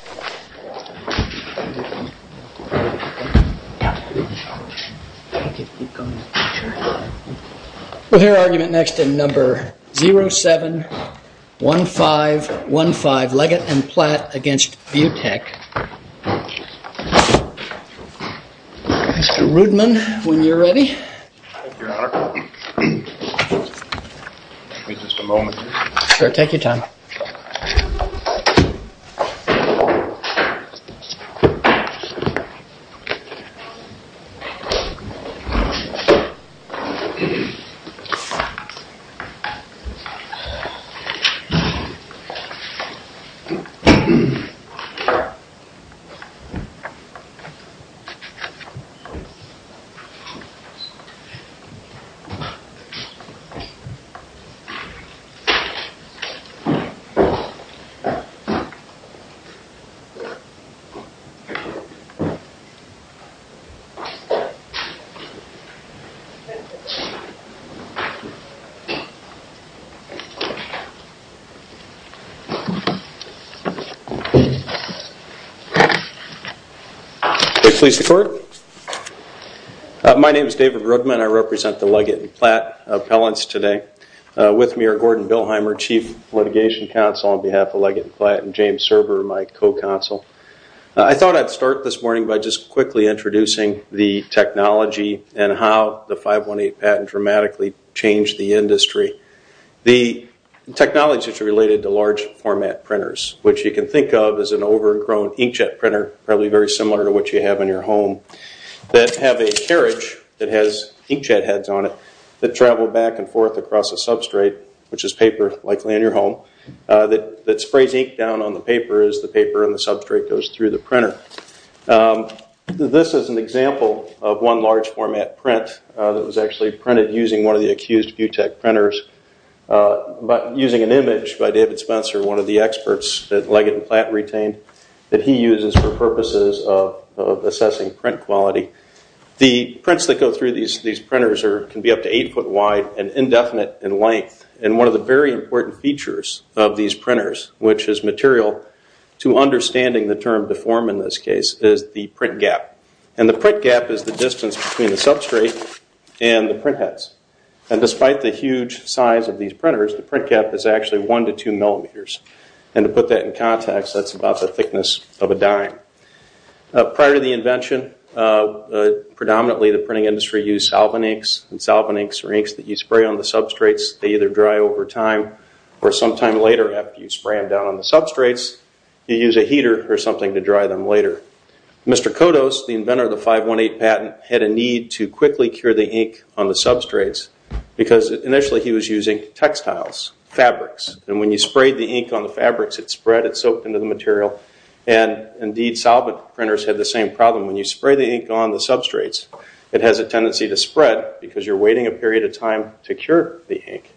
Mr. Rudman, when you're ready. Your Honor, give me just a moment, please. Sure, take your time. Thank you, Your Honor. Thank you, Your Honor. Thank you, Your Honor. My name is David Rudman. I represent the Leggett & Platt appellants today. With me are Gordon Bilheimer, Chief Litigation Counsel on behalf of Leggett & Platt, and James Serber, my co-counsel. I thought I'd start this morning by just quickly introducing the technology and how the 518 patent dramatically changed the industry. The technology is related to large format printers, which you can think of as an overgrown inkjet printer, probably very similar to what you have in your home, that have a carriage that has inkjet heads on it that travel back and forth across a substrate, which is paper, likely in your home, that sprays ink down on the paper as the paper and the substrate goes through the printer. This is an example of one large format print that was actually printed using one of the accused Vutek printers, using an image by David Spencer, one of the experts that Leggett & Platt retained that he uses for purposes of assessing print quality. The prints that go through these printers can be up to eight foot wide and indefinite in length. One of the very important features of these printers, which is material to understanding the term deform in this case, is the print gap. The print gap is the distance between the substrate and the print heads. Despite the huge size of these printers, the print gap is actually one to two millimeters. To put that in context, that's about the thickness of a dime. Prior to the invention, predominantly the printing industry used solvent inks. Solvent inks are inks that you spray on the substrates, they either dry over time, or sometime later after you spray them down on the substrates, you use a heater or something to dry them later. Mr. Kodos, the inventor of the 518 patent, had a need to quickly cure the ink on the substrates because initially he was using textiles, fabrics. When you sprayed the ink on the fabrics, it spread, it soaked into the material. Indeed, solvent printers had the same problem. When you spray the ink on the substrates, it has a tendency to spread because you're waiting a period of time to cure the ink.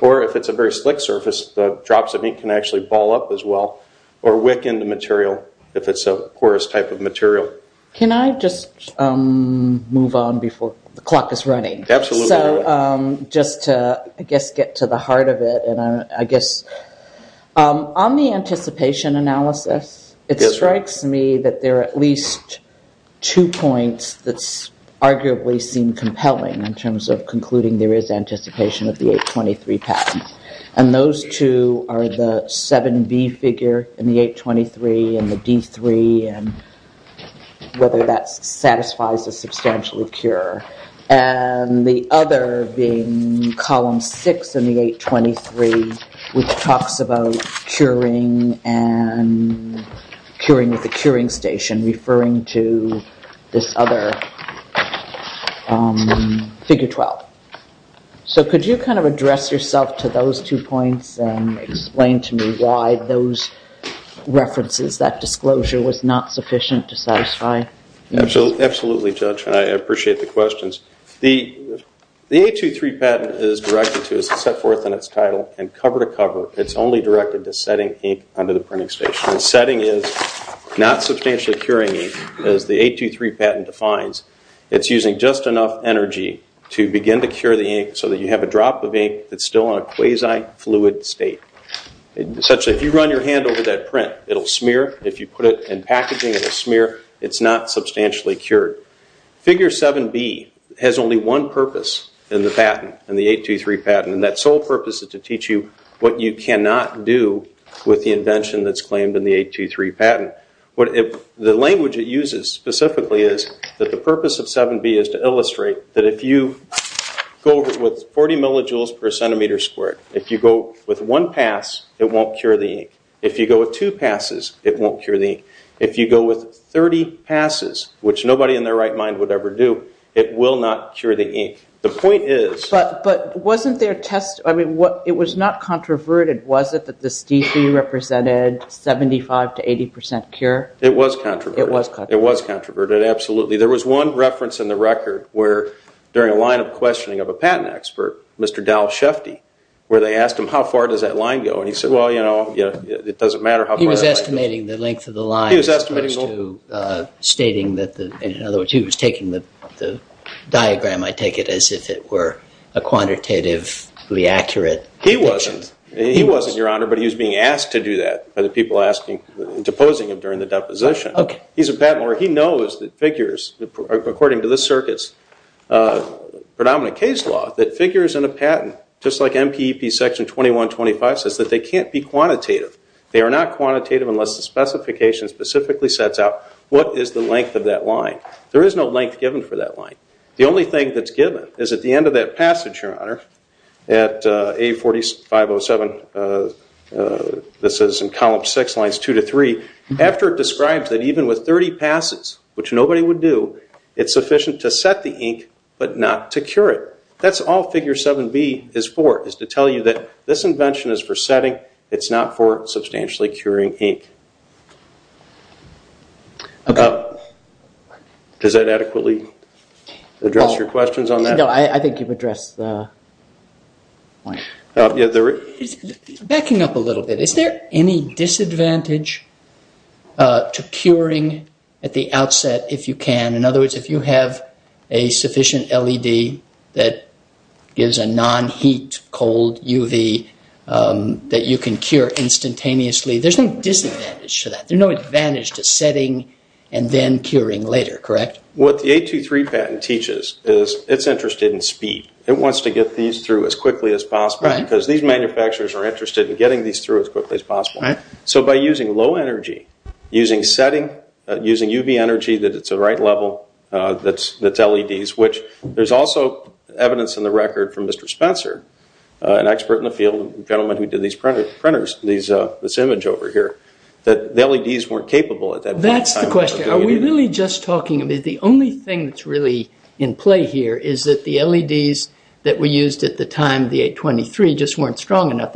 Or if it's a very slick surface, the drops of ink can actually ball up as well, or wick into material if it's a porous type of material. Can I just move on before the clock is running? Absolutely. Just to get to the heart of it. On the anticipation analysis, it strikes me that there are at least two points that arguably seem compelling in terms of concluding there is anticipation of the 823 patent. And those two are the 7B figure in the 823 and the D3 and whether that satisfies a substantial cure. And the other being column 6 in the 823 which talks about curing and curing with a curing station, referring to this other figure 12. So could you kind of address yourself to those two points and explain to me why those references, that disclosure was not sufficient to satisfy? Absolutely, Judge. I appreciate the questions. The 823 patent is directed to set forth in its title and cover to cover, it's only directed to setting ink under the printing station. Setting is not substantially curing ink as the 823 patent defines. It's using just enough energy to begin to cure the ink so that you have a drop of ink that's still in a quasi-fluid state. Essentially, if you run your hand over that print, it will smear. If you put it in packaging, it will smear. It's not substantially cured. Figure 7B has only one purpose in the patent, in the 823 patent. And that sole purpose is to teach you what you cannot do with the invention that's claimed in the 823 patent. The language it uses specifically is that the purpose of 7B is to illustrate that if you go with 40 millijoules per centimeter squared, if you go with one pass, it won't cure the ink. If you go with two passes, it won't cure the ink. If you go with 30 passes, which nobody in their right mind would ever do, it will not cure the ink. The point is... But wasn't their test, I mean, it was not controverted, was it, that the STC represented 75 to 80% cure? It was controverted. It was controverted. It was controverted, absolutely. There was one reference in the record where, during a line of questioning of a patent expert, Mr. Dal Shefty, where they asked him, how far does that line go? And he said, well, you know, it doesn't matter how far that line goes. He was estimating the length of the line as opposed to stating that the... In other words, he was taking the diagram, I take it, as if it were a quantitatively accurate... He wasn't. He wasn't, Your Honor, but he was being asked to do that by the people proposing him during the deposition. Okay. He's a patent lawyer. He knows that figures, according to the circuit's predominant case law, that figures in a patent, just like MPEP section 2125 says, that they can't be quantitative. They are not quantitative unless the specification specifically sets out what is the length of that line. There is no length given for that line. The only thing that's given is at the end of that passage, Your Honor, at A4507, this is in column 6, lines 2 to 3, after it describes that even with 30 passes, which nobody would do, it's sufficient to set the ink but not to cure it. That's all figure 7B is for, is to tell you that this invention is for setting. It's not for substantially curing ink. Does that adequately address your questions on that? No, I think you've addressed the point. Backing up a little bit, is there any disadvantage to curing at the outset if you can? In other words, if you have a sufficient LED that gives a non-heat, cold UV that you can cure instantaneously, there's no disadvantage to that. There's no advantage to setting and then curing later, correct? What the 823 patent teaches is it's interested in speed. It wants to get these through as quickly as possible because these manufacturers are interested in getting these through as quickly as possible. So by using low energy, using setting, using UV energy that it's the right level, that's LEDs, which there's also evidence in the record from Mr. Spencer, an expert in the field, a gentleman who did these printers, this image over here, that the LEDs weren't capable at that point in time. That's the question. The only thing that's really in play here is that the LEDs that were used at the time, the 823, just weren't strong enough.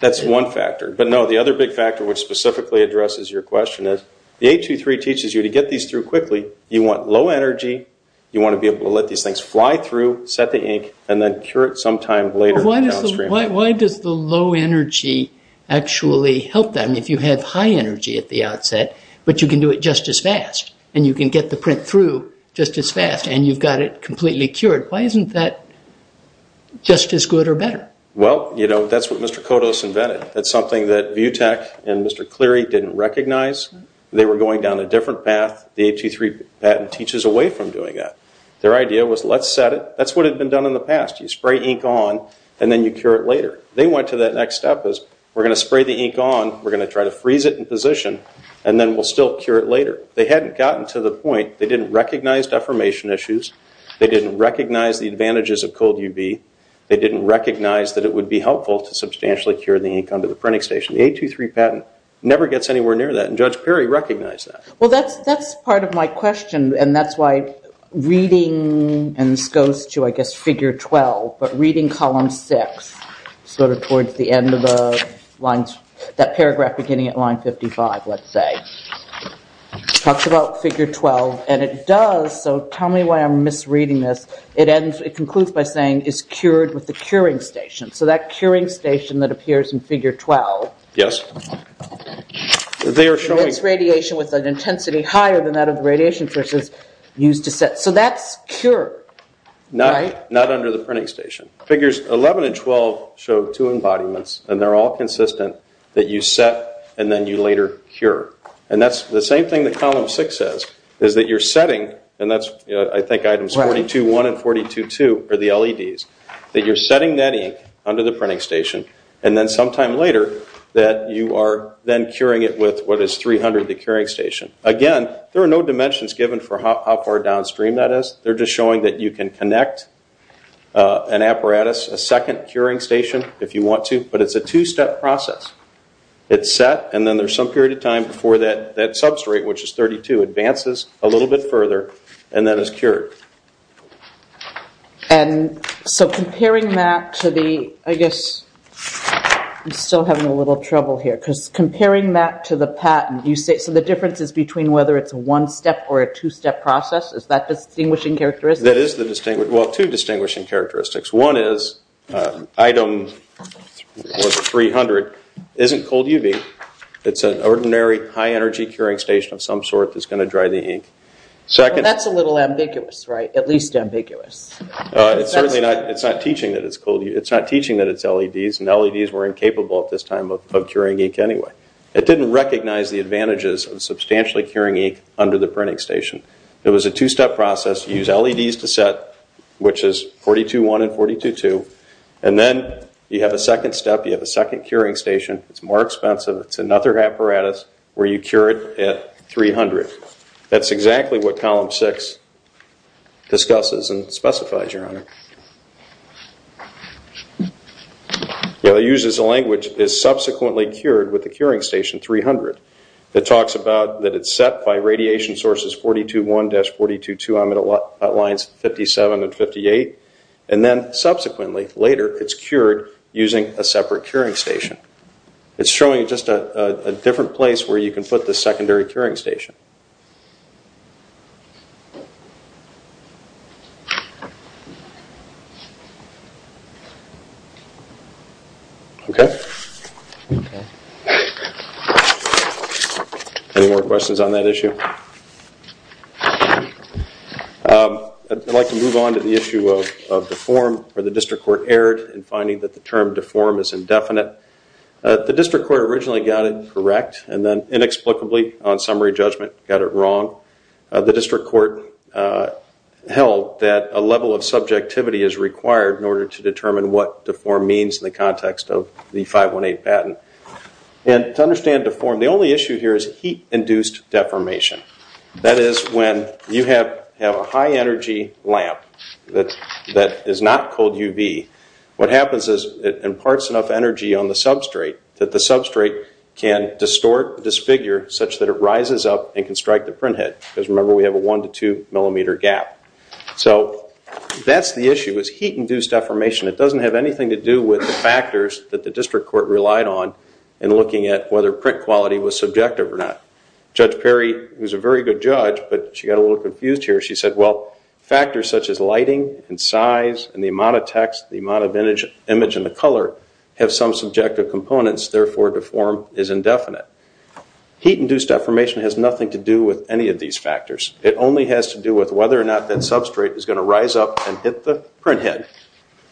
That's one factor. But no, the other big factor which specifically addresses your question is the 823 teaches you to get these through quickly. You want low energy. You want to be able to let these things fly through, set the ink, and then cure it sometime later downstream. Why does the low energy actually help them if you have high energy at the outset but you can do it just as fast and you can get the print through just as fast and you've got it completely cured? Why isn't that just as good or better? Well, you know, that's what Mr. Kodos invented. That's something that Vutec and Mr. Cleary didn't recognize. They were going down a different path. The 823 patent teaches away from doing that. Their idea was let's set it. That's what had been done in the past. You spray ink on and then you cure it later. They went to that next step as we're going to spray the ink on, we're going to try to freeze it in position, and then we'll still cure it later. They hadn't gotten to the point. They didn't recognize deformation issues. They didn't recognize the advantages of cold UV. They didn't recognize that it would be helpful to substantially cure the ink onto the printing station. The 823 patent never gets anywhere near that, and Judge Perry recognized that. Well, that's part of my question, and that's why reading, and this goes to, I guess, figure 12, but reading column 6 sort of towards the end of that paragraph beginning at line 55, let's say, talks about figure 12, and it does. So tell me why I'm misreading this. It concludes by saying it's cured with the curing station. So that curing station that appears in figure 12. Yes. It emits radiation with an intensity higher than that of the radiation sources used to set. So that's cured, right? Not under the printing station. Figures 11 and 12 show two embodiments, and they're all consistent, that you set and then you later cure. And that's the same thing that column 6 says, is that you're setting, and that's, I think, items 42.1 and 42.2 are the LEDs, that you're setting that ink under the printing station, and then sometime later that you are then curing it with what is 300, the curing station. Again, there are no dimensions given for how far downstream that is. They're just showing that you can connect an apparatus, a second curing station if you want to, but it's a two-step process. It's set, and then there's some period of time before that substrate, which is 32, advances a little bit further, and then it's cured. And so comparing that to the, I guess, I'm still having a little trouble here, because comparing that to the patent, so the difference is between whether it's a one-step or a two-step process? Is that the distinguishing characteristic? That is the distinguishing, well, two distinguishing characteristics. One is item 300 isn't cold UV. It's an ordinary high-energy curing station of some sort that's going to dry the ink. That's a little ambiguous, right, at least ambiguous. It's certainly not teaching that it's cold UV. It's not teaching that it's LEDs, and LEDs were incapable at this time of curing ink anyway. It didn't recognize the advantages of substantially curing ink under the printing station. It was a two-step process. You use LEDs to set, which is 42.1 and 42.2, and then you have a second step. You have a second curing station. It's more expensive. It's another apparatus where you cure it at 300. That's exactly what Column 6 discusses and specifies, Your Honor. It uses a language, is subsequently cured with the curing station 300. It talks about that it's set by radiation sources 42.1-42.2 on lines 57 and 58, and then subsequently, later, it's cured using a separate curing station. It's showing just a different place where you can put the secondary curing station. Okay? Any more questions on that issue? I'd like to move on to the issue of deform, where the district court erred in finding that the term deform is indefinite. The district court originally got it correct, and then inexplicably on summary judgment got it wrong. The district court held that a level of subjectivity is required in order to determine what deform means in the context of the 518 patent. To understand deform, the only issue here is heat-induced deformation. That is, when you have a high-energy lamp that is not cold UV, what happens is it imparts enough energy on the substrate that the substrate can distort, disfigure, such that it rises up and can strike the printhead. Because remember, we have a 1-2 millimeter gap. So that's the issue, is heat-induced deformation. It doesn't have anything to do with the factors that the district court relied on in looking at whether print quality was subjective or not. Judge Perry, who's a very good judge, but she got a little confused here, she said, well, factors such as lighting and size and the amount of text, the amount of image and the color have some subjective components, therefore deform is indefinite. Heat-induced deformation has nothing to do with any of these factors. It only has to do with whether or not that substrate is going to rise up and hit the printhead,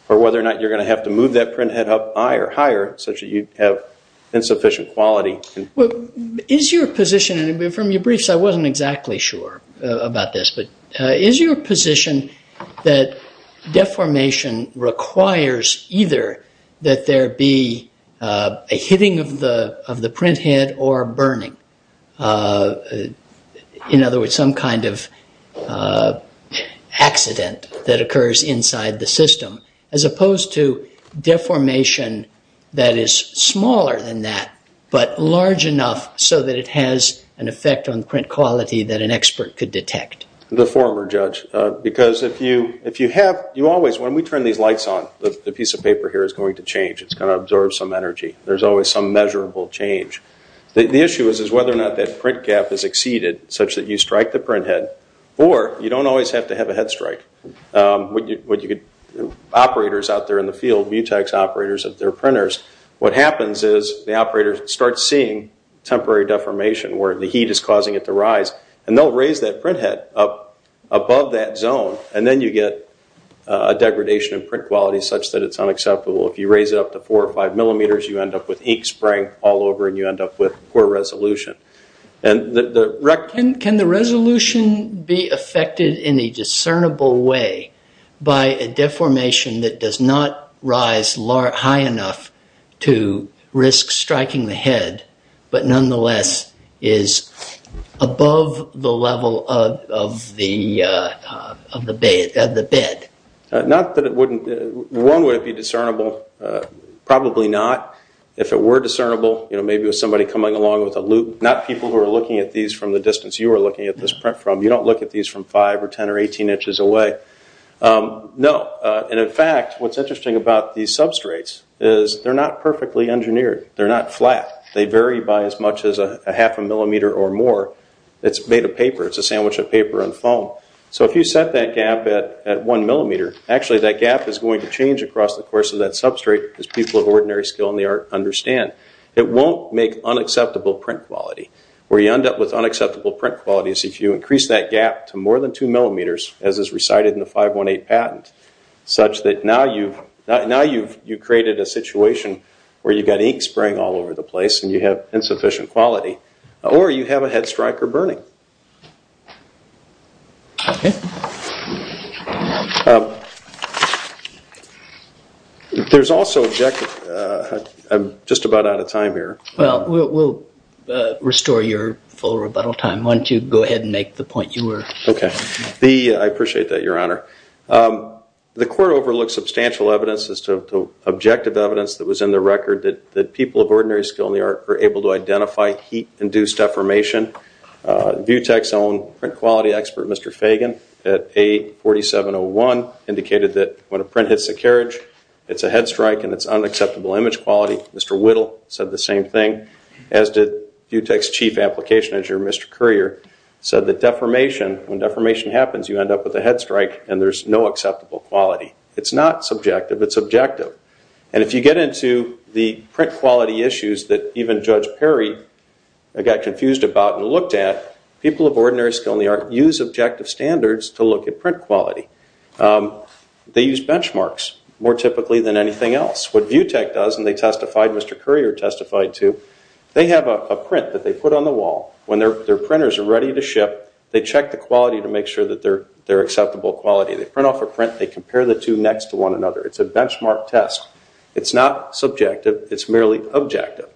or whether or not you're going to have to move that printhead up higher such that you have insufficient quality. Well, is your position, and from your briefs I wasn't exactly sure about this, but is your position that deformation requires either that there be a hitting of the printhead or burning, in other words, some kind of accident that occurs inside the system, as opposed to deformation that is smaller than that, but large enough so that it has an effect on print quality that an expert could detect? The former, Judge. Because if you have, you always, when we turn these lights on, the piece of paper here is going to change. It's going to absorb some energy. There's always some measurable change. The issue is whether or not that print gap is exceeded such that you strike the printhead, or you don't always have to have a head strike. Operators out there in the field, mutex operators of their printers, what happens is the operator starts seeing temporary deformation where the heat is causing it to rise, and they'll raise that printhead up above that zone, and then you get a degradation in print quality such that it's unacceptable. If you raise it up to four or five millimeters, you end up with ink spraying all over and you end up with poor resolution. Can the resolution be affected in a discernible way by a deformation that does not rise high enough to risk striking the head, but nonetheless is above the level of the bed? Not that it wouldn't. One, would it be discernible? Probably not. If it were discernible, maybe with somebody coming along with a loop. Not people who are looking at these from the distance you are looking at this print from. You don't look at these from five or ten or 18 inches away. No. In fact, what's interesting about these substrates is they're not perfectly engineered. They're not flat. They vary by as much as a half a millimeter or more. It's made of paper. It's a sandwich of paper and foam. If you set that gap at one millimeter, actually that gap is going to change across the course of that substrate as people of ordinary skill in the art understand. It won't make unacceptable print quality. Where you end up with unacceptable print quality is if you increase that gap to more than two millimeters, as is recited in the 518 patent, such that now you've created a situation where you've got ink spraying all over the place and you have insufficient quality, or you have a head strike or burning. Okay. There's also objective. I'm just about out of time here. Well, we'll restore your full rebuttal time. Why don't you go ahead and make the point you were. Okay. I appreciate that, Your Honor. The court overlooked substantial evidence as to objective evidence that was in the record that people of ordinary skill in the art were able to identify heat-induced deformation VU Tech's own print quality expert, Mr. Fagan, at 8-4701, indicated that when a print hits a carriage, it's a head strike and it's unacceptable image quality. Mr. Whittle said the same thing, as did VU Tech's chief application manager, Mr. Currier, said that deformation, when deformation happens, you end up with a head strike and there's no acceptable quality. It's not subjective, it's objective. And if you get into the print quality issues that even Judge Perry got confused about and looked at, people of ordinary skill in the art use objective standards to look at print quality. They use benchmarks more typically than anything else. What VU Tech does, and they testified, Mr. Currier testified too, they have a print that they put on the wall. When their printers are ready to ship, they check the quality to make sure that they're acceptable quality. They print off a print, they compare the two next to one another. It's a benchmark test. It's not subjective, it's merely objective.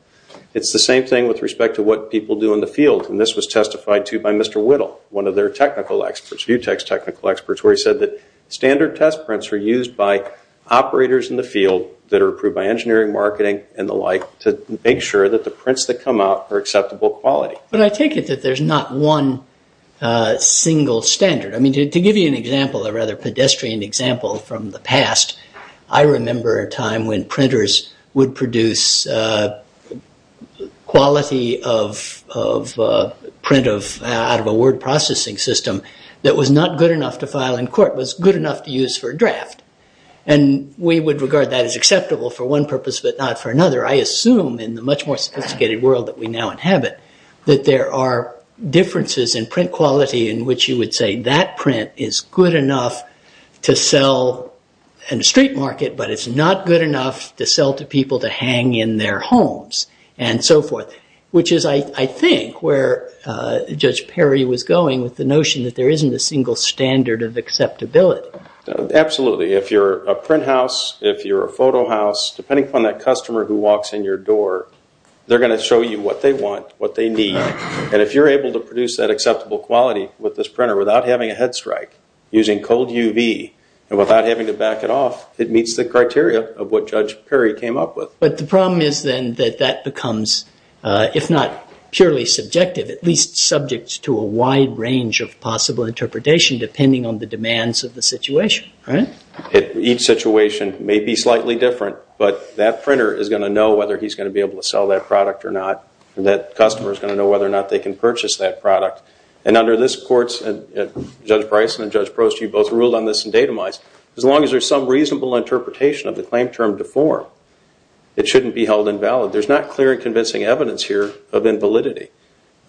It's the same thing with respect to what people do in the field, and this was testified to by Mr. Whittle, one of their technical experts, VU Tech's technical experts, where he said that standard test prints are used by operators in the field that are approved by engineering, marketing, and the like, to make sure that the prints that come out are acceptable quality. But I take it that there's not one single standard. I mean, to give you an example, a rather pedestrian example from the past, I remember a time when printers would produce quality of print out of a word processing system that was not good enough to file in court, was good enough to use for a draft, and we would regard that as acceptable for one purpose but not for another. I assume in the much more sophisticated world that we now inhabit that there are differences in print quality in which you would say that print is good enough to sell in a street market but it's not good enough to sell to people to hang in their homes and so forth, which is, I think, where Judge Perry was going with the notion that there isn't a single standard of acceptability. Absolutely. If you're a print house, if you're a photo house, depending upon that customer who walks in your door, they're going to show you what they want, what they need, and if you're able to produce that acceptable quality with this printer without having a head strike, using cold UV, and without having to back it off, it meets the criteria of what Judge Perry came up with. But the problem is then that that becomes, if not purely subjective, at least subject to a wide range of possible interpretation depending on the demands of the situation, right? Each situation may be slightly different, but that printer is going to know whether he's going to be able to sell that product or not, and that customer is going to know whether or not they can purchase that product. And under this court, Judge Bryson and Judge Prost, you both ruled on this in datamized, as long as there's some reasonable interpretation of the claim term deformed, it shouldn't be held invalid. There's not clear and convincing evidence here of invalidity.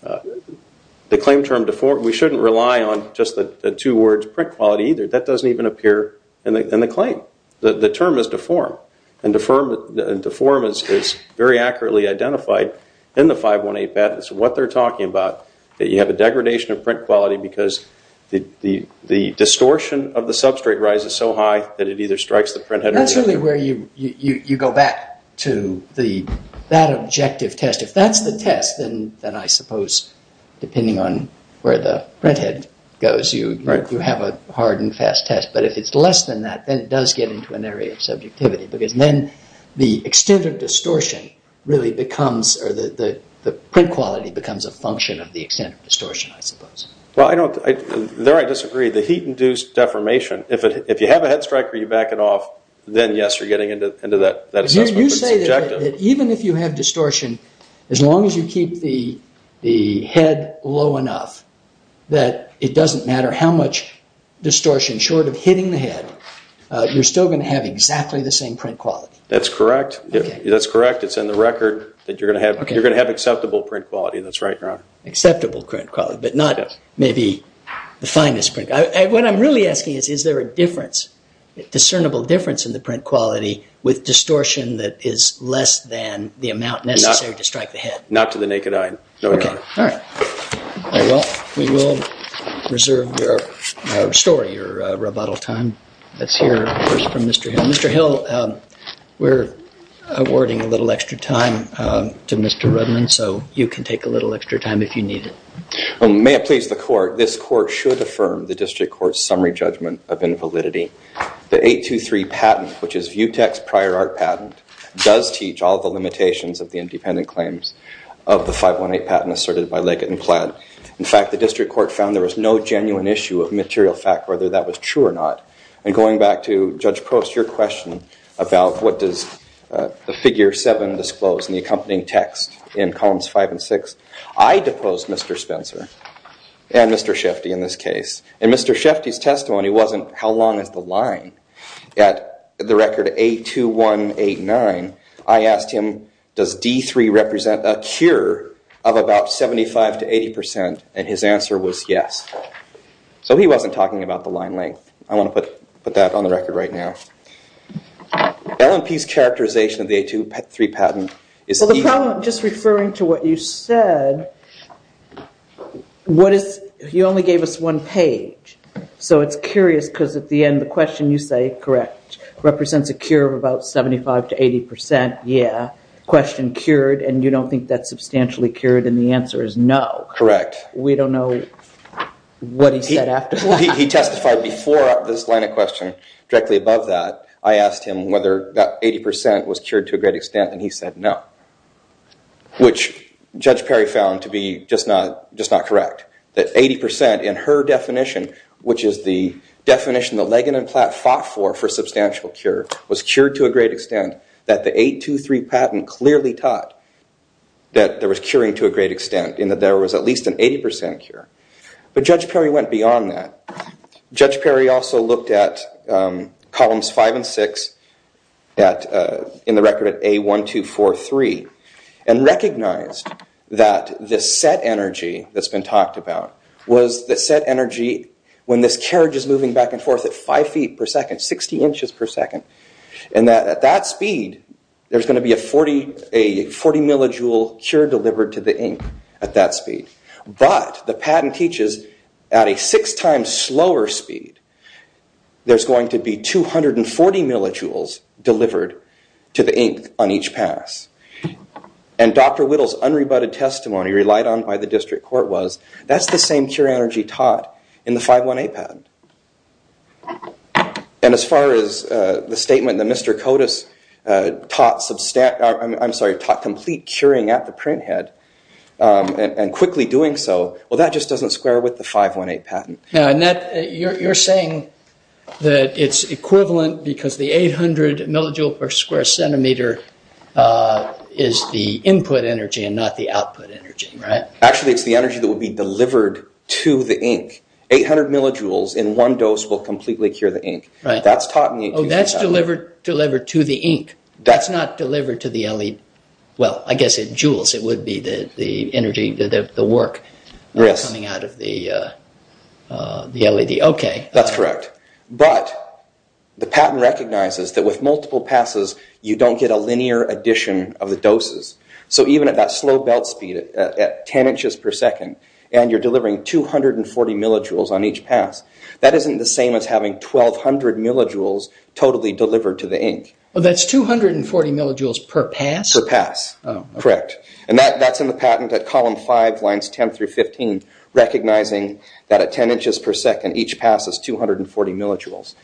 The claim term deformed, we shouldn't rely on just the two words print quality either. That doesn't even appear in the claim. The term is deformed, and deformed is very accurately identified in the 518 bet. It's what they're talking about, that you have a degradation of print quality because the distortion of the substrate rises so high that it either strikes the printhead... That's really where you go back to that objective test. If that's the test, then I suppose, depending on where the printhead goes, you have a hard and fast test. But if it's less than that, then it does get into an area of subjectivity because then the extent of distortion really becomes, or the print quality becomes a function of the extent of distortion, I suppose. Well, there I disagree. The heat-induced deformation, if you have a head striker, you back it off, then yes, you're getting into that assessment, but it's subjective. You say that even if you have distortion, as long as you keep the head low enough that it doesn't matter how much distortion, short of hitting the head, you're still going to have exactly the same print quality. That's correct. That's correct. It's in the record that you're going to have acceptable print quality. That's right, Your Honor. Acceptable print quality, but not maybe the finest print quality. What I'm really asking is, is there a difference, a discernible difference in the print quality with distortion that is less than the amount necessary to strike the head? Not to the naked eye, No, Your Honor. Okay. All right. Well, we will reserve your story, your rebuttal time. Let's hear first from Mr. Hill. Mr. Hill, we're awarding a little extra time to Mr. Rudman, so you can take a little extra time if you need it. May it please the Court, this Court should affirm the District Court's summary judgment of invalidity. The 823 patent, which is Vutec's prior art patent, does teach all the limitations of the independent claims of the 518 patent asserted by Leggett and Platt. In fact, the District Court found there was no genuine issue of material fact whether that was true or not. And going back to Judge Post, your question about what does the figure 7 disclose in the accompanying text in columns 5 and 6, I deposed Mr. Spencer and Mr. Shefty in this case, and Mr. Shefty's testimony wasn't how long is the line At the record 82189, I asked him, does D3 represent a cure of about 75 to 80 percent, and his answer was yes. So he wasn't talking about the line length. I want to put that on the record right now. L&P's characterization of the 823 patent is... Well, the problem, just referring to what you said, what is, you only gave us one page, so it's curious because at the end the question you say, correct, represents a cure of about 75 to 80 percent, yeah, question cured, and you don't think that's substantially cured, and the answer is no. Correct. We don't know what he said after that. He testified before this line of question directly above that. I asked him whether that 80 percent was cured to a great extent, and he said no, which Judge Perry found to be just not correct, that 80 percent in her definition, which is the definition that Lagan and Platt fought for for substantial cure, was cured to a great extent, that the 823 patent clearly taught that there was curing to a great extent, and that there was at least an 80 percent cure. But Judge Perry went beyond that. Judge Perry also looked at columns 5 and 6 in the record at A1243 and recognized that the set energy that's been talked about was the set energy when this carriage is moving back and forth at 5 feet per second, 60 inches per second, and that at that speed there's going to be a 40 millijoule cure delivered to the ink at that speed. But the patent teaches at a six times slower speed there's going to be 240 millijoules delivered to the ink on each pass. And Dr. Whittle's unrebutted testimony relied on by the district court was that's the same cure energy taught in the 518 patent. And as far as the statement that Mr. Cotas taught complete curing at the printhead and quickly doing so, well that just doesn't square with the 518 patent. Now, Annette, you're saying that it's equivalent because the 800 millijoules per square centimeter is the input energy and not the output energy, right? Actually, it's the energy that will be delivered to the ink. 800 millijoules in one dose will completely cure the ink. That's taught in the 827. Oh, that's delivered to the ink. That's not delivered to the LED. Well, I guess in joules it would be the energy, the work, coming out of the LED. That's correct. But the patent recognizes that with multiple passes you don't get a linear addition of the doses. So even at that slow belt speed at 10 inches per second and you're delivering 240 millijoules on each pass, that isn't the same as having 1,200 millijoules totally delivered to the ink. Oh, that's 240 millijoules per pass? Per pass, correct. And that's in the patent at column 5, lines 10 through 15, recognizing that at 10 inches per second each pass is 240 millijoules.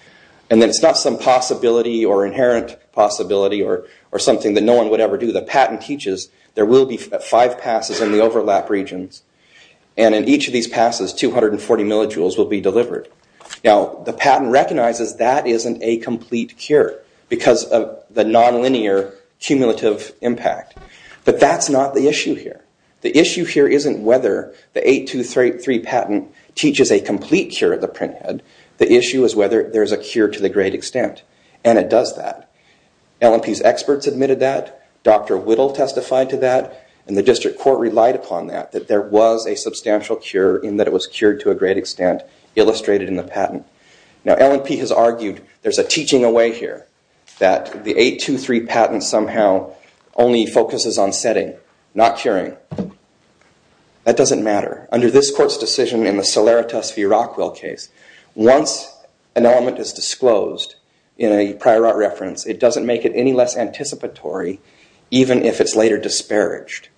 And it's not some possibility or inherent possibility or something that no one would ever do. The patent teaches there will be five passes in the overlap regions, and in each of these passes 240 millijoules will be delivered. Now, the patent recognizes that isn't a complete cure because of the nonlinear cumulative impact. But that's not the issue here. The issue here isn't whether the 823 patent teaches a complete cure at the printhead. The issue is whether there's a cure to the great extent. And it does that. LNP's experts admitted that. Dr. Whittle testified to that. And the district court relied upon that, that there was a substantial cure in that it was cured to a great extent, illustrated in the patent. Now, LNP has argued there's a teaching away here, that the 823 patent somehow only focuses on setting, not curing. That doesn't matter. Under this court's decision in the Solaritas v. Rockwell case, once an element is disclosed in a prior art reference, it doesn't make it any less anticipatory, even if it's later disparaged.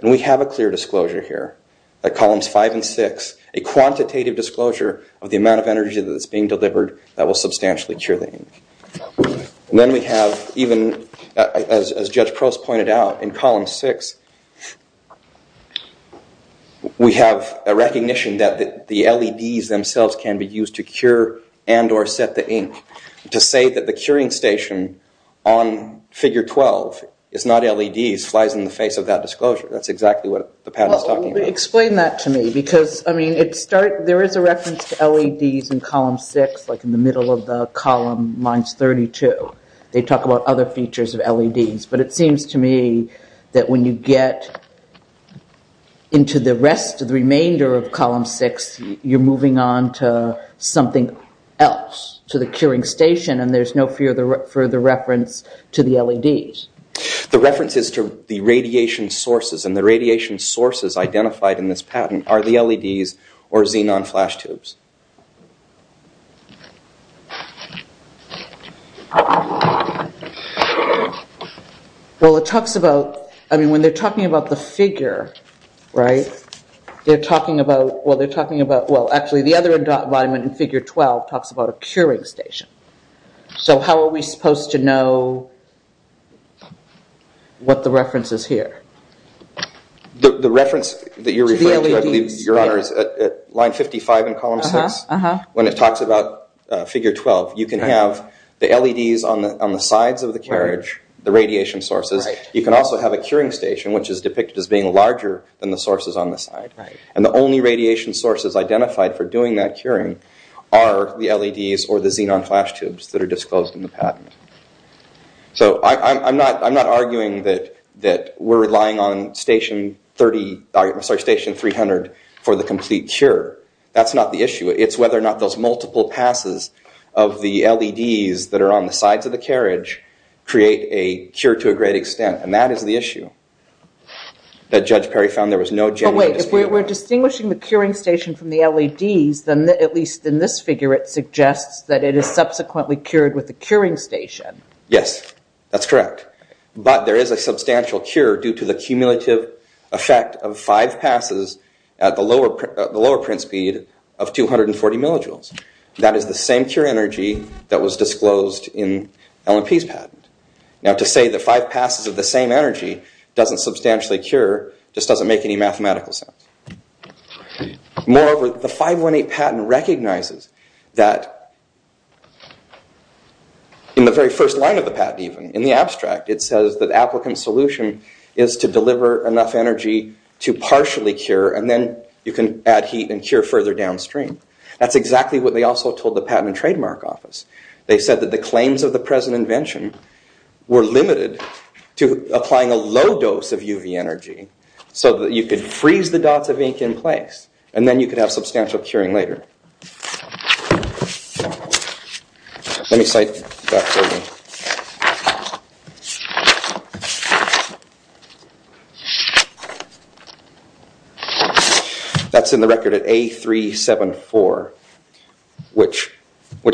And we have a clear disclosure here, at columns five and six, a quantitative disclosure of the amount of energy that's being delivered that will substantially cure the ink. Then we have, even as Judge Prost pointed out, in column six we have a recognition that the LEDs themselves can be used to cure and or set the ink. To say that the curing station on figure 12 is not LEDs flies in the face of that disclosure. That's exactly what the patent is talking about. Explain that to me, because there is a reference to LEDs in column six, like in the middle of the column, lines 32. They talk about other features of LEDs, but it seems to me that when you get into the rest, the remainder of column six, you're moving on to something else, to the curing station, and there's no further reference to the LEDs. The reference is to the radiation sources, and the radiation sources identified in this patent are the LEDs or xenon flash tubes. Well, it talks about, I mean, when they're talking about the figure, right, they're talking about, well, they're talking about, well, actually the other environment in figure 12 talks about a curing station. So how are we supposed to know what the reference is here? The reference that you're referring to, I believe, Your Honor, is line 55 in column six. When it talks about figure 12, you can have the LEDs on the sides of the carriage, the radiation sources. You can also have a curing station, which is depicted as being larger than the sources on the side, and the only radiation sources identified for doing that curing are the LEDs or the xenon flash tubes that are disclosed in the patent. So I'm not arguing that we're relying on station 300 for the complete cure. That's not the issue. It's whether or not those multiple passes of the LEDs that are on the sides of the carriage create a cure to a great extent, and that is the issue that Judge Perry found there was no genuine dispute. So if we're distinguishing the curing station from the LEDs, then at least in this figure it suggests that it is subsequently cured with a curing station. Yes, that's correct. But there is a substantial cure due to the cumulative effect of five passes at the lower print speed of 240 millijoules. That is the same cure energy that was disclosed in L&P's patent. Now to say that five passes of the same energy doesn't substantially cure just doesn't make any mathematical sense. Moreover, the 518 patent recognizes that in the very first line of the patent even, in the abstract it says that applicant solution is to deliver enough energy to partially cure and then you can add heat and cure further downstream. That's exactly what they also told the Patent and Trademark Office. They said that the claims of the present invention were limited to applying a low dose of UV energy so that you could freeze the dots of ink in place and then you could have substantial curing later. That's in the record at A374, which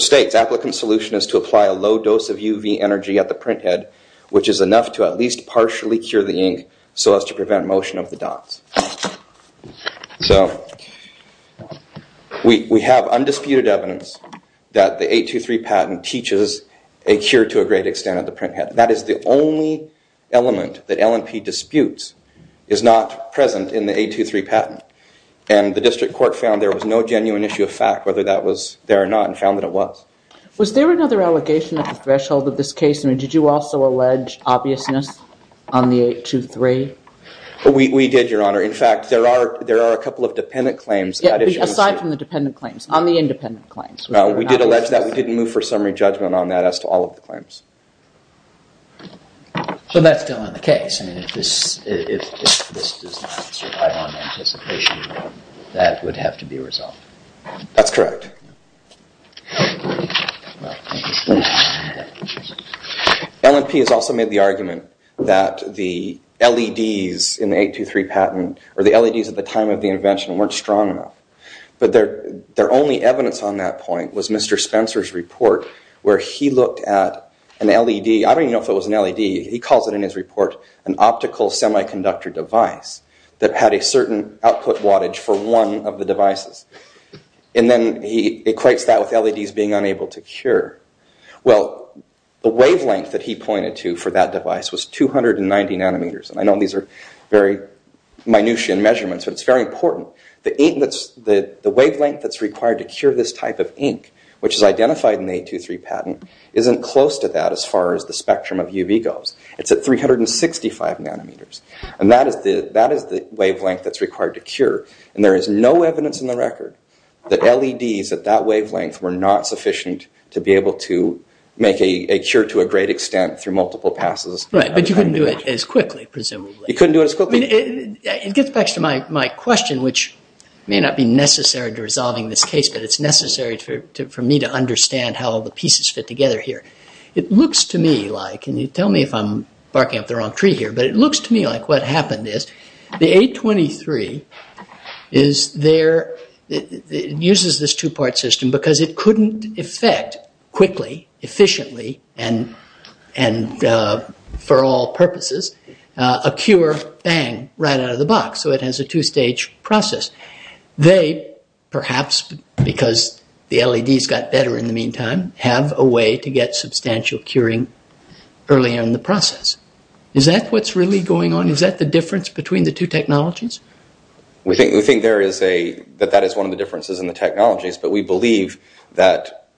states applicant solution is to apply a low dose of UV energy at the printhead which is enough to at least partially cure the ink so as to prevent motion of the dots. We have undisputed evidence that the 823 patent teaches a cure to a great extent at the printhead. That is the only element that L&P disputes is not present in the 823 patent. The district court found there was no genuine issue of fact whether that was there or not and found that it was. Was there another allegation at the threshold of this case? Did you also allege obviousness on the 823? We did, your honor. In fact, there are a couple of dependent claims. Aside from the dependent claims, on the independent claims. We did allege that. So that's still in the case. If this does not survive on anticipation, that would have to be resolved. That's correct. L&P has also made the argument that the LEDs in the 823 patent or the LEDs at the time of the invention weren't strong enough. But their only evidence on that point was Mr. Spencer's report where he looked at an LED. I don't even know if it was an LED. He calls it in his report an optical semiconductor device that had a certain output wattage for one of the devices. And then he equates that with LEDs being unable to cure. Well, the wavelength that he pointed to for that device was 290 nanometers. And I know these are very minutiae measurements, but it's very important. The wavelength that's required to cure this type of ink, which is identified in the 823 patent, isn't close to that as far as the spectrum of UV goes. It's at 365 nanometers. And that is the wavelength that's required to cure. And there is no evidence in the record that LEDs at that wavelength were not sufficient to be able to make a cure to a great extent through multiple passes. Right, but you couldn't do it as quickly, presumably. You couldn't do it as quickly. It gets back to my question, which may not be necessary to resolving this case, but it's necessary for me to understand how all the pieces fit together here. It looks to me like, and you tell me if I'm barking up the wrong tree here, but it looks to me like what happened is the 823 uses this two-part system because it couldn't effect quickly, efficiently, and for all purposes, a cure, bang, right out of the box. So it has a two-stage process. They, perhaps because the LEDs got better in the meantime, have a way to get substantial curing early in the process. Is that what's really going on? Is that the difference between the two technologies? We think that that is one of the differences in the technologies, but we believe that...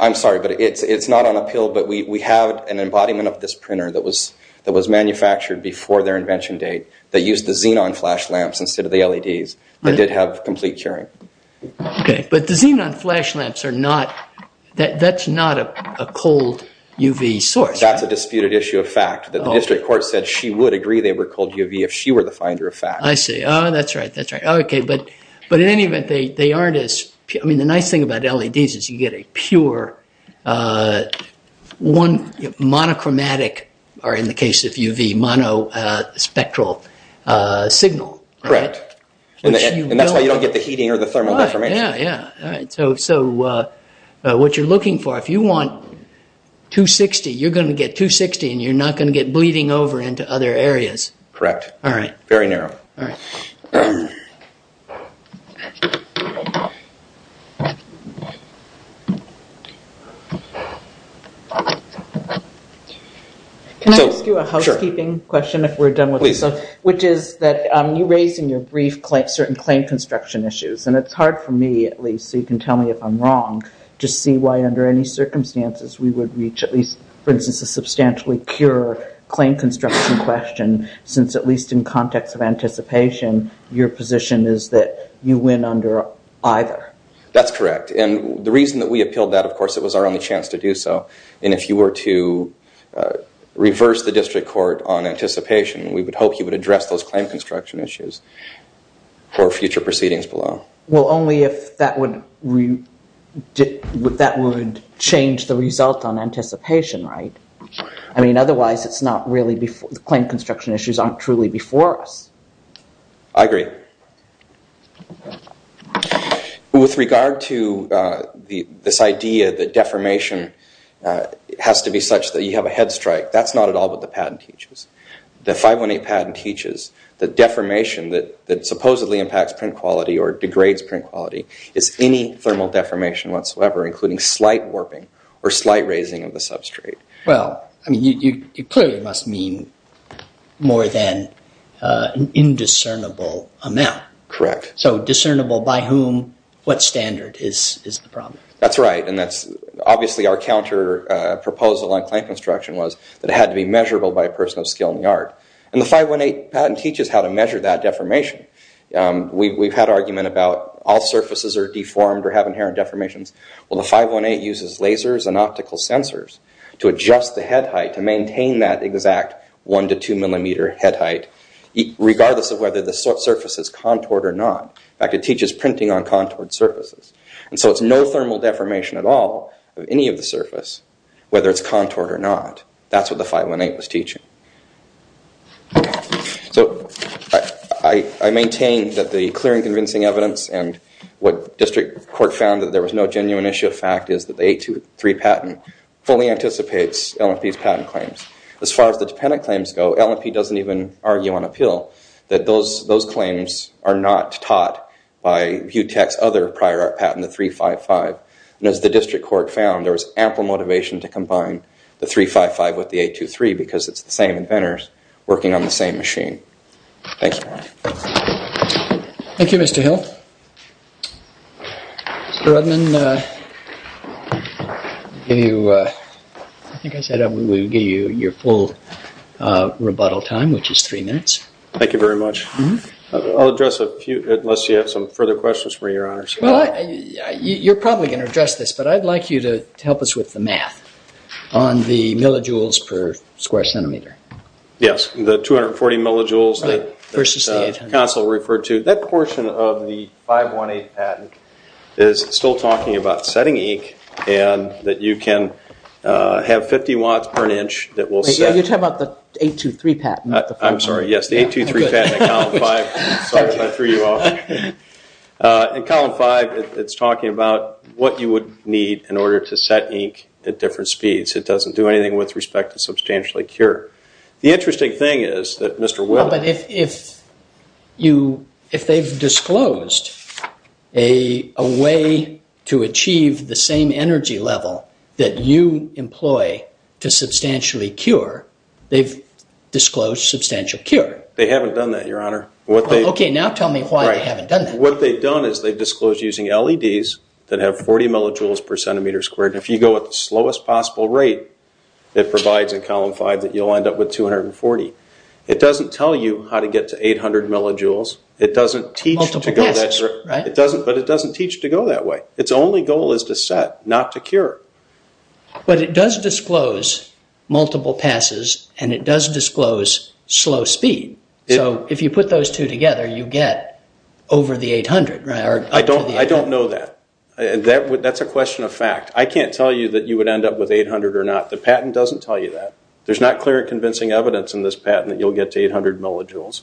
I'm sorry, but it's not on appeal, but we have an embodiment of this printer that was manufactured before their invention date that used the xenon flash lamps instead of the LEDs that did have complete curing. Okay, but the xenon flash lamps are not... that's not a cold UV source. That's a disputed issue of fact. The district court said she would agree they were cold UV if she were the finder of fact. I see. Oh, that's right, that's right. Okay, but in any event, they aren't as... I mean, the nice thing about LEDs is you get a pure one... monochromatic, or in the case of UV, monospectral signal. Correct. And that's why you don't get the heating or the thermal deformation. Right, yeah, yeah. All right, so what you're looking for, if you want 260, you're going to get 260 and you're not going to get bleeding over into other areas. Correct. All right. Very narrow. All right. Can I ask you a housekeeping question if we're done with this? Please. Which is that you raised in your brief certain claim construction issues, and it's hard for me, at least, so you can tell me if I'm wrong, to see why under any circumstances we would reach at least, for instance, a substantially cure claim construction question since at least in context of anticipation, your position is that you win under either. That's correct. And the reason that we appealed that, of course, it was our only chance to do so, and if you were to reverse the district court on anticipation, we would hope you would address those claim construction issues for future proceedings below. Well, only if that would change the result on anticipation, right? I mean, otherwise it's not really before... the claim construction issues aren't truly before us. I agree. With regard to this idea that deformation has to be such that you have a head strike, that's not at all what the patent teaches. The 518 patent teaches that deformation that supposedly impacts print quality or degrades print quality is any thermal deformation whatsoever, including slight warping or slight raising of the substrate. Well, I mean, you clearly must mean more than an indiscernible amount. Correct. So discernible by whom, what standard is the problem? That's right. And that's obviously our counter proposal on claim construction was that it had to be measurable by a person of skill in the art. And the 518 patent teaches how to measure that deformation. We've had argument about all surfaces are deformed or have inherent deformations. Well, the 518 uses lasers and optical sensors to adjust the head height to maintain that exact one to two millimeter head height, regardless of whether the surface is contoured or not. In fact, it teaches printing on contoured surfaces. And so it's no thermal deformation at all of any of the surface, whether it's contoured or not. That's what the 518 was teaching. So I maintain that the clear and convincing evidence and what district court found that there was no genuine issue of fact is that the 823 patent fully anticipates L&P's patent claims. As far as the dependent claims go, L&P doesn't even argue on appeal that those claims are not taught by Butek's other prior art patent, the 355. And as the district court found, there was ample motivation to combine the 355 with the 823 because it's the same inventors working on the same machine. Thank you. Thank you, Mr. Hill. Mr. Rudman, I think I said we would give you your full rebuttal time, which is three minutes. Thank you very much. I'll address a few, unless you have some further questions for your honors. Well, you're probably going to address this, but I'd like you to help us with the math on the millijoules per square centimeter. Yes, the 240 millijoules that counsel referred to. That portion of the 518 patent is still talking about setting ink and that you can have 50 watts per an inch that will set. You're talking about the 823 patent. I'm sorry, yes, the 823 patent in column five. Sorry if I threw you off. In column five, it's talking about what you would need in order to set ink at different speeds. It doesn't do anything with respect to substantially cure. The interesting thing is that Mr. Willis But if they've disclosed a way to achieve the same energy level that you employ to substantially cure, they've disclosed substantial cure. They haven't done that, your honor. Okay, now tell me why they haven't done that. What they've done is they've disclosed using LEDs that have 40 millijoules per centimeter squared. If you go at the slowest possible rate, it provides in column five that you'll end up with 240. It doesn't tell you how to get to 800 millijoules. It doesn't teach to go that way. But it doesn't teach to go that way. Its only goal is to set, not to cure. But it does disclose multiple passes and it does disclose slow speed. So if you put those two together, you get over the 800. I don't know that. That's a question of fact. I can't tell you that you would end up with 800 or not. The patent doesn't tell you that. There's not clear and convincing evidence in this patent that you'll get to 800 millijoules.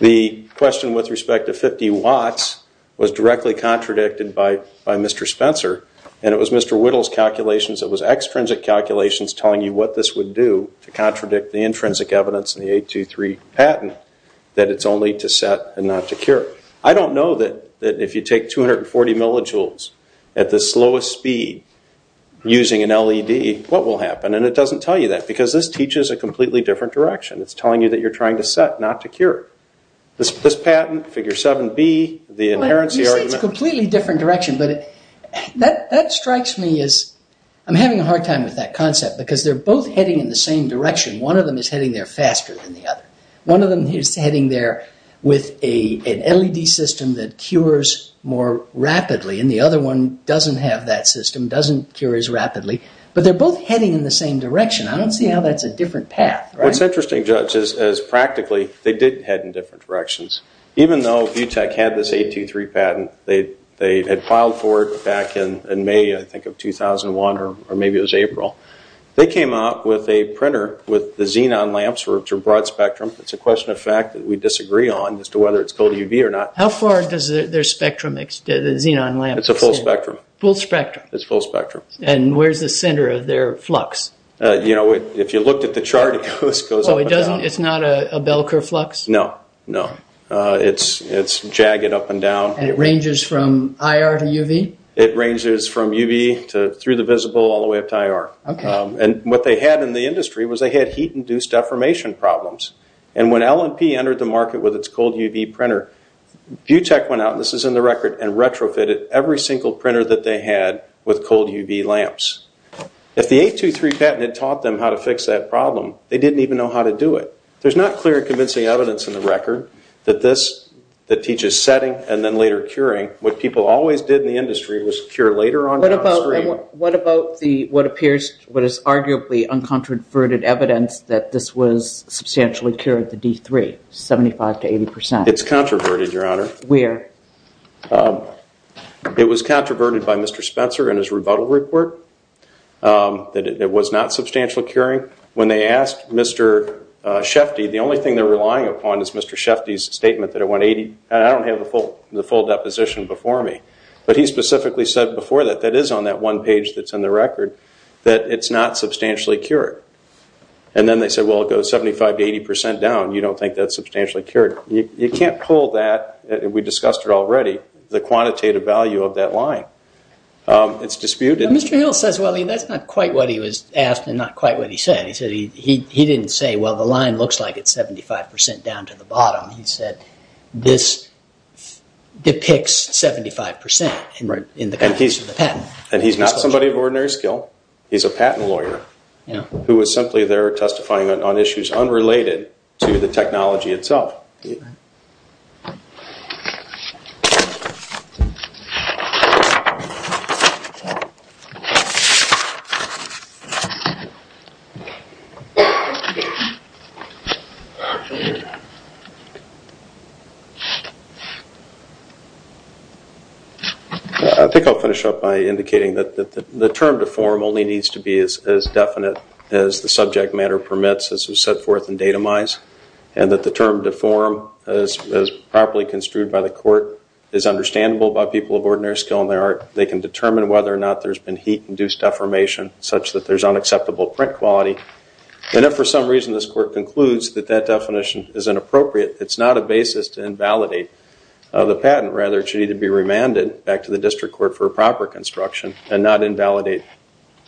The question with respect to 50 watts was directly contradicted by Mr. Spencer, and it was Mr. Whittle's calculations, it was extrinsic calculations telling you what this would do to contradict the intrinsic evidence in the 823 patent that it's only to set and not to cure. I don't know that if you take 240 millijoules at the slowest speed using an LED, what will happen, and it doesn't tell you that because this teaches a completely different direction. It's telling you that you're trying to set, not to cure. This patent, figure 7B, the inherency argument... You say it's a completely different direction, but that strikes me as... I'm having a hard time with that concept because they're both heading in the same direction. One of them is heading there faster than the other. One of them is heading there with an LED system that cures more rapidly, and the other one doesn't have that system, doesn't cure as rapidly, but they're both heading in the same direction. I don't see how that's a different path. What's interesting, Judge, is practically they did head in different directions. Even though Butech had this 823 patent, they had filed for it back in May, I think, of 2001, or maybe it was April. They came out with a printer with the xenon lamps, which are broad spectrum. It's a question of fact that we disagree on as to whether it's cold UV or not. How far does their spectrum extend, the xenon lamps? It's a full spectrum. Full spectrum? It's full spectrum. And where's the center of their flux? If you looked at the chart, it goes up and down. It's not a bell curve flux? And it ranges from IR to UV? It ranges from UV through the visible all the way up to IR. And what they had in the industry was they had heat-induced deformation problems. And when L&P entered the market with its cold UV printer, Butech went out, and this is in the record, and retrofitted every single printer that they had with cold UV lamps. If the 823 patent had taught them how to fix that problem, they didn't even know how to do it. There's not clear and convincing evidence in the record that this, that teaches setting and then later curing, what people always did in the industry was cure later on downstream. What about the, what appears, what is arguably uncontroverted evidence that this was substantially cured, the D3, 75% to 80%? It's controverted, Your Honor. Where? It was controverted by Mr. Spencer in his rebuttal report, that it was not substantial curing. When they asked Mr. Shefty, the only thing they're relying upon is Mr. Shefty's statement that it went 80, and I don't have the full deposition before me, but he specifically said before that, that is on that one page that's in the record, that it's not substantially cured. And then they said, well, it goes 75 to 80% down, you don't think that's substantially cured. You can't pull that, we discussed it already, the quantitative value of that line. It's disputed. Mr. Hill says, well, that's not quite what he was asked and not quite what he said. He didn't say, well, the line looks like it's 75% down to the bottom. He said, this depicts 75% in the context of the patent. And he's not somebody of ordinary skill. He's a patent lawyer who was simply there testifying on issues unrelated to the technology itself. I think I'll finish up by indicating that the term deform only needs to be as definite as the subject matter permits, as was set forth in datamize, and that the term deform, as properly construed by the court, is understandable by people of ordinary skill in their art. They can determine whether or not there's been heat-induced deformation such that there's unacceptable print quality. And if for some reason this court concludes that that definition is inappropriate, it's not a basis to invalidate the patent. Rather, it should either be remanded back to the district court for proper construction and not invalidate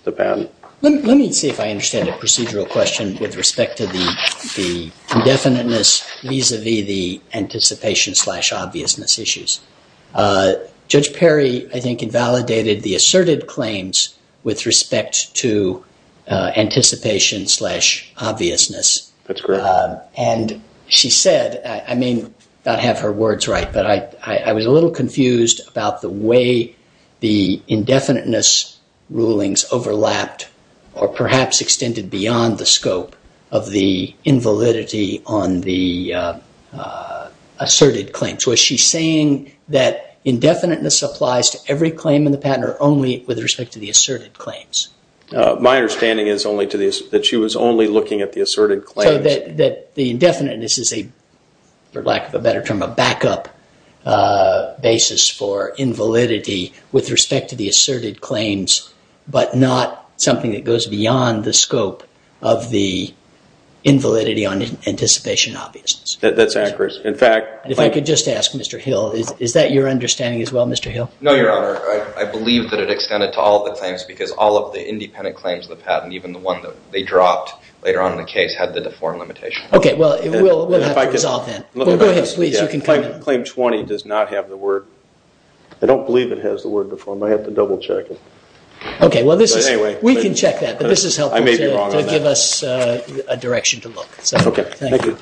the patent. Let me see if I understand the procedural question with respect to the indefiniteness vis-a-vis the anticipation-slash-obviousness issues. Judge Perry, I think, invalidated the asserted claims with respect to anticipation-slash-obviousness. That's correct. And she said, I may not have her words right, but I was a little confused about the way the indefiniteness rulings overlapped or perhaps extended beyond the scope of the invalidity on the asserted claims. Was she saying that indefiniteness applies to every claim in the patent or only with respect to the asserted claims? My understanding is that she was only looking at the asserted claims. So that the indefiniteness is, for lack of a better term, a backup basis for invalidity with respect to the asserted claims but not something that goes beyond the scope of the invalidity on anticipation-slash-obviousness. That's accurate. And if I could just ask, Mr. Hill, is that your understanding as well, Mr. Hill? No, Your Honor. I believe that it extended to all of the claims because all of the independent claims of the patent, even the one that they dropped later on in the case, had the deformed limitation. Okay, well, we'll have to resolve that. Go ahead, please. Claim 20 does not have the word. I don't believe it has the word deformed. I have to double-check it. Okay, well, we can check that. But this is helpful to give us a direction to look. Okay, thank you.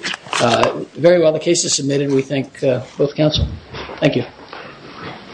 Very well, the case is submitted. We thank both counsel. Thank you.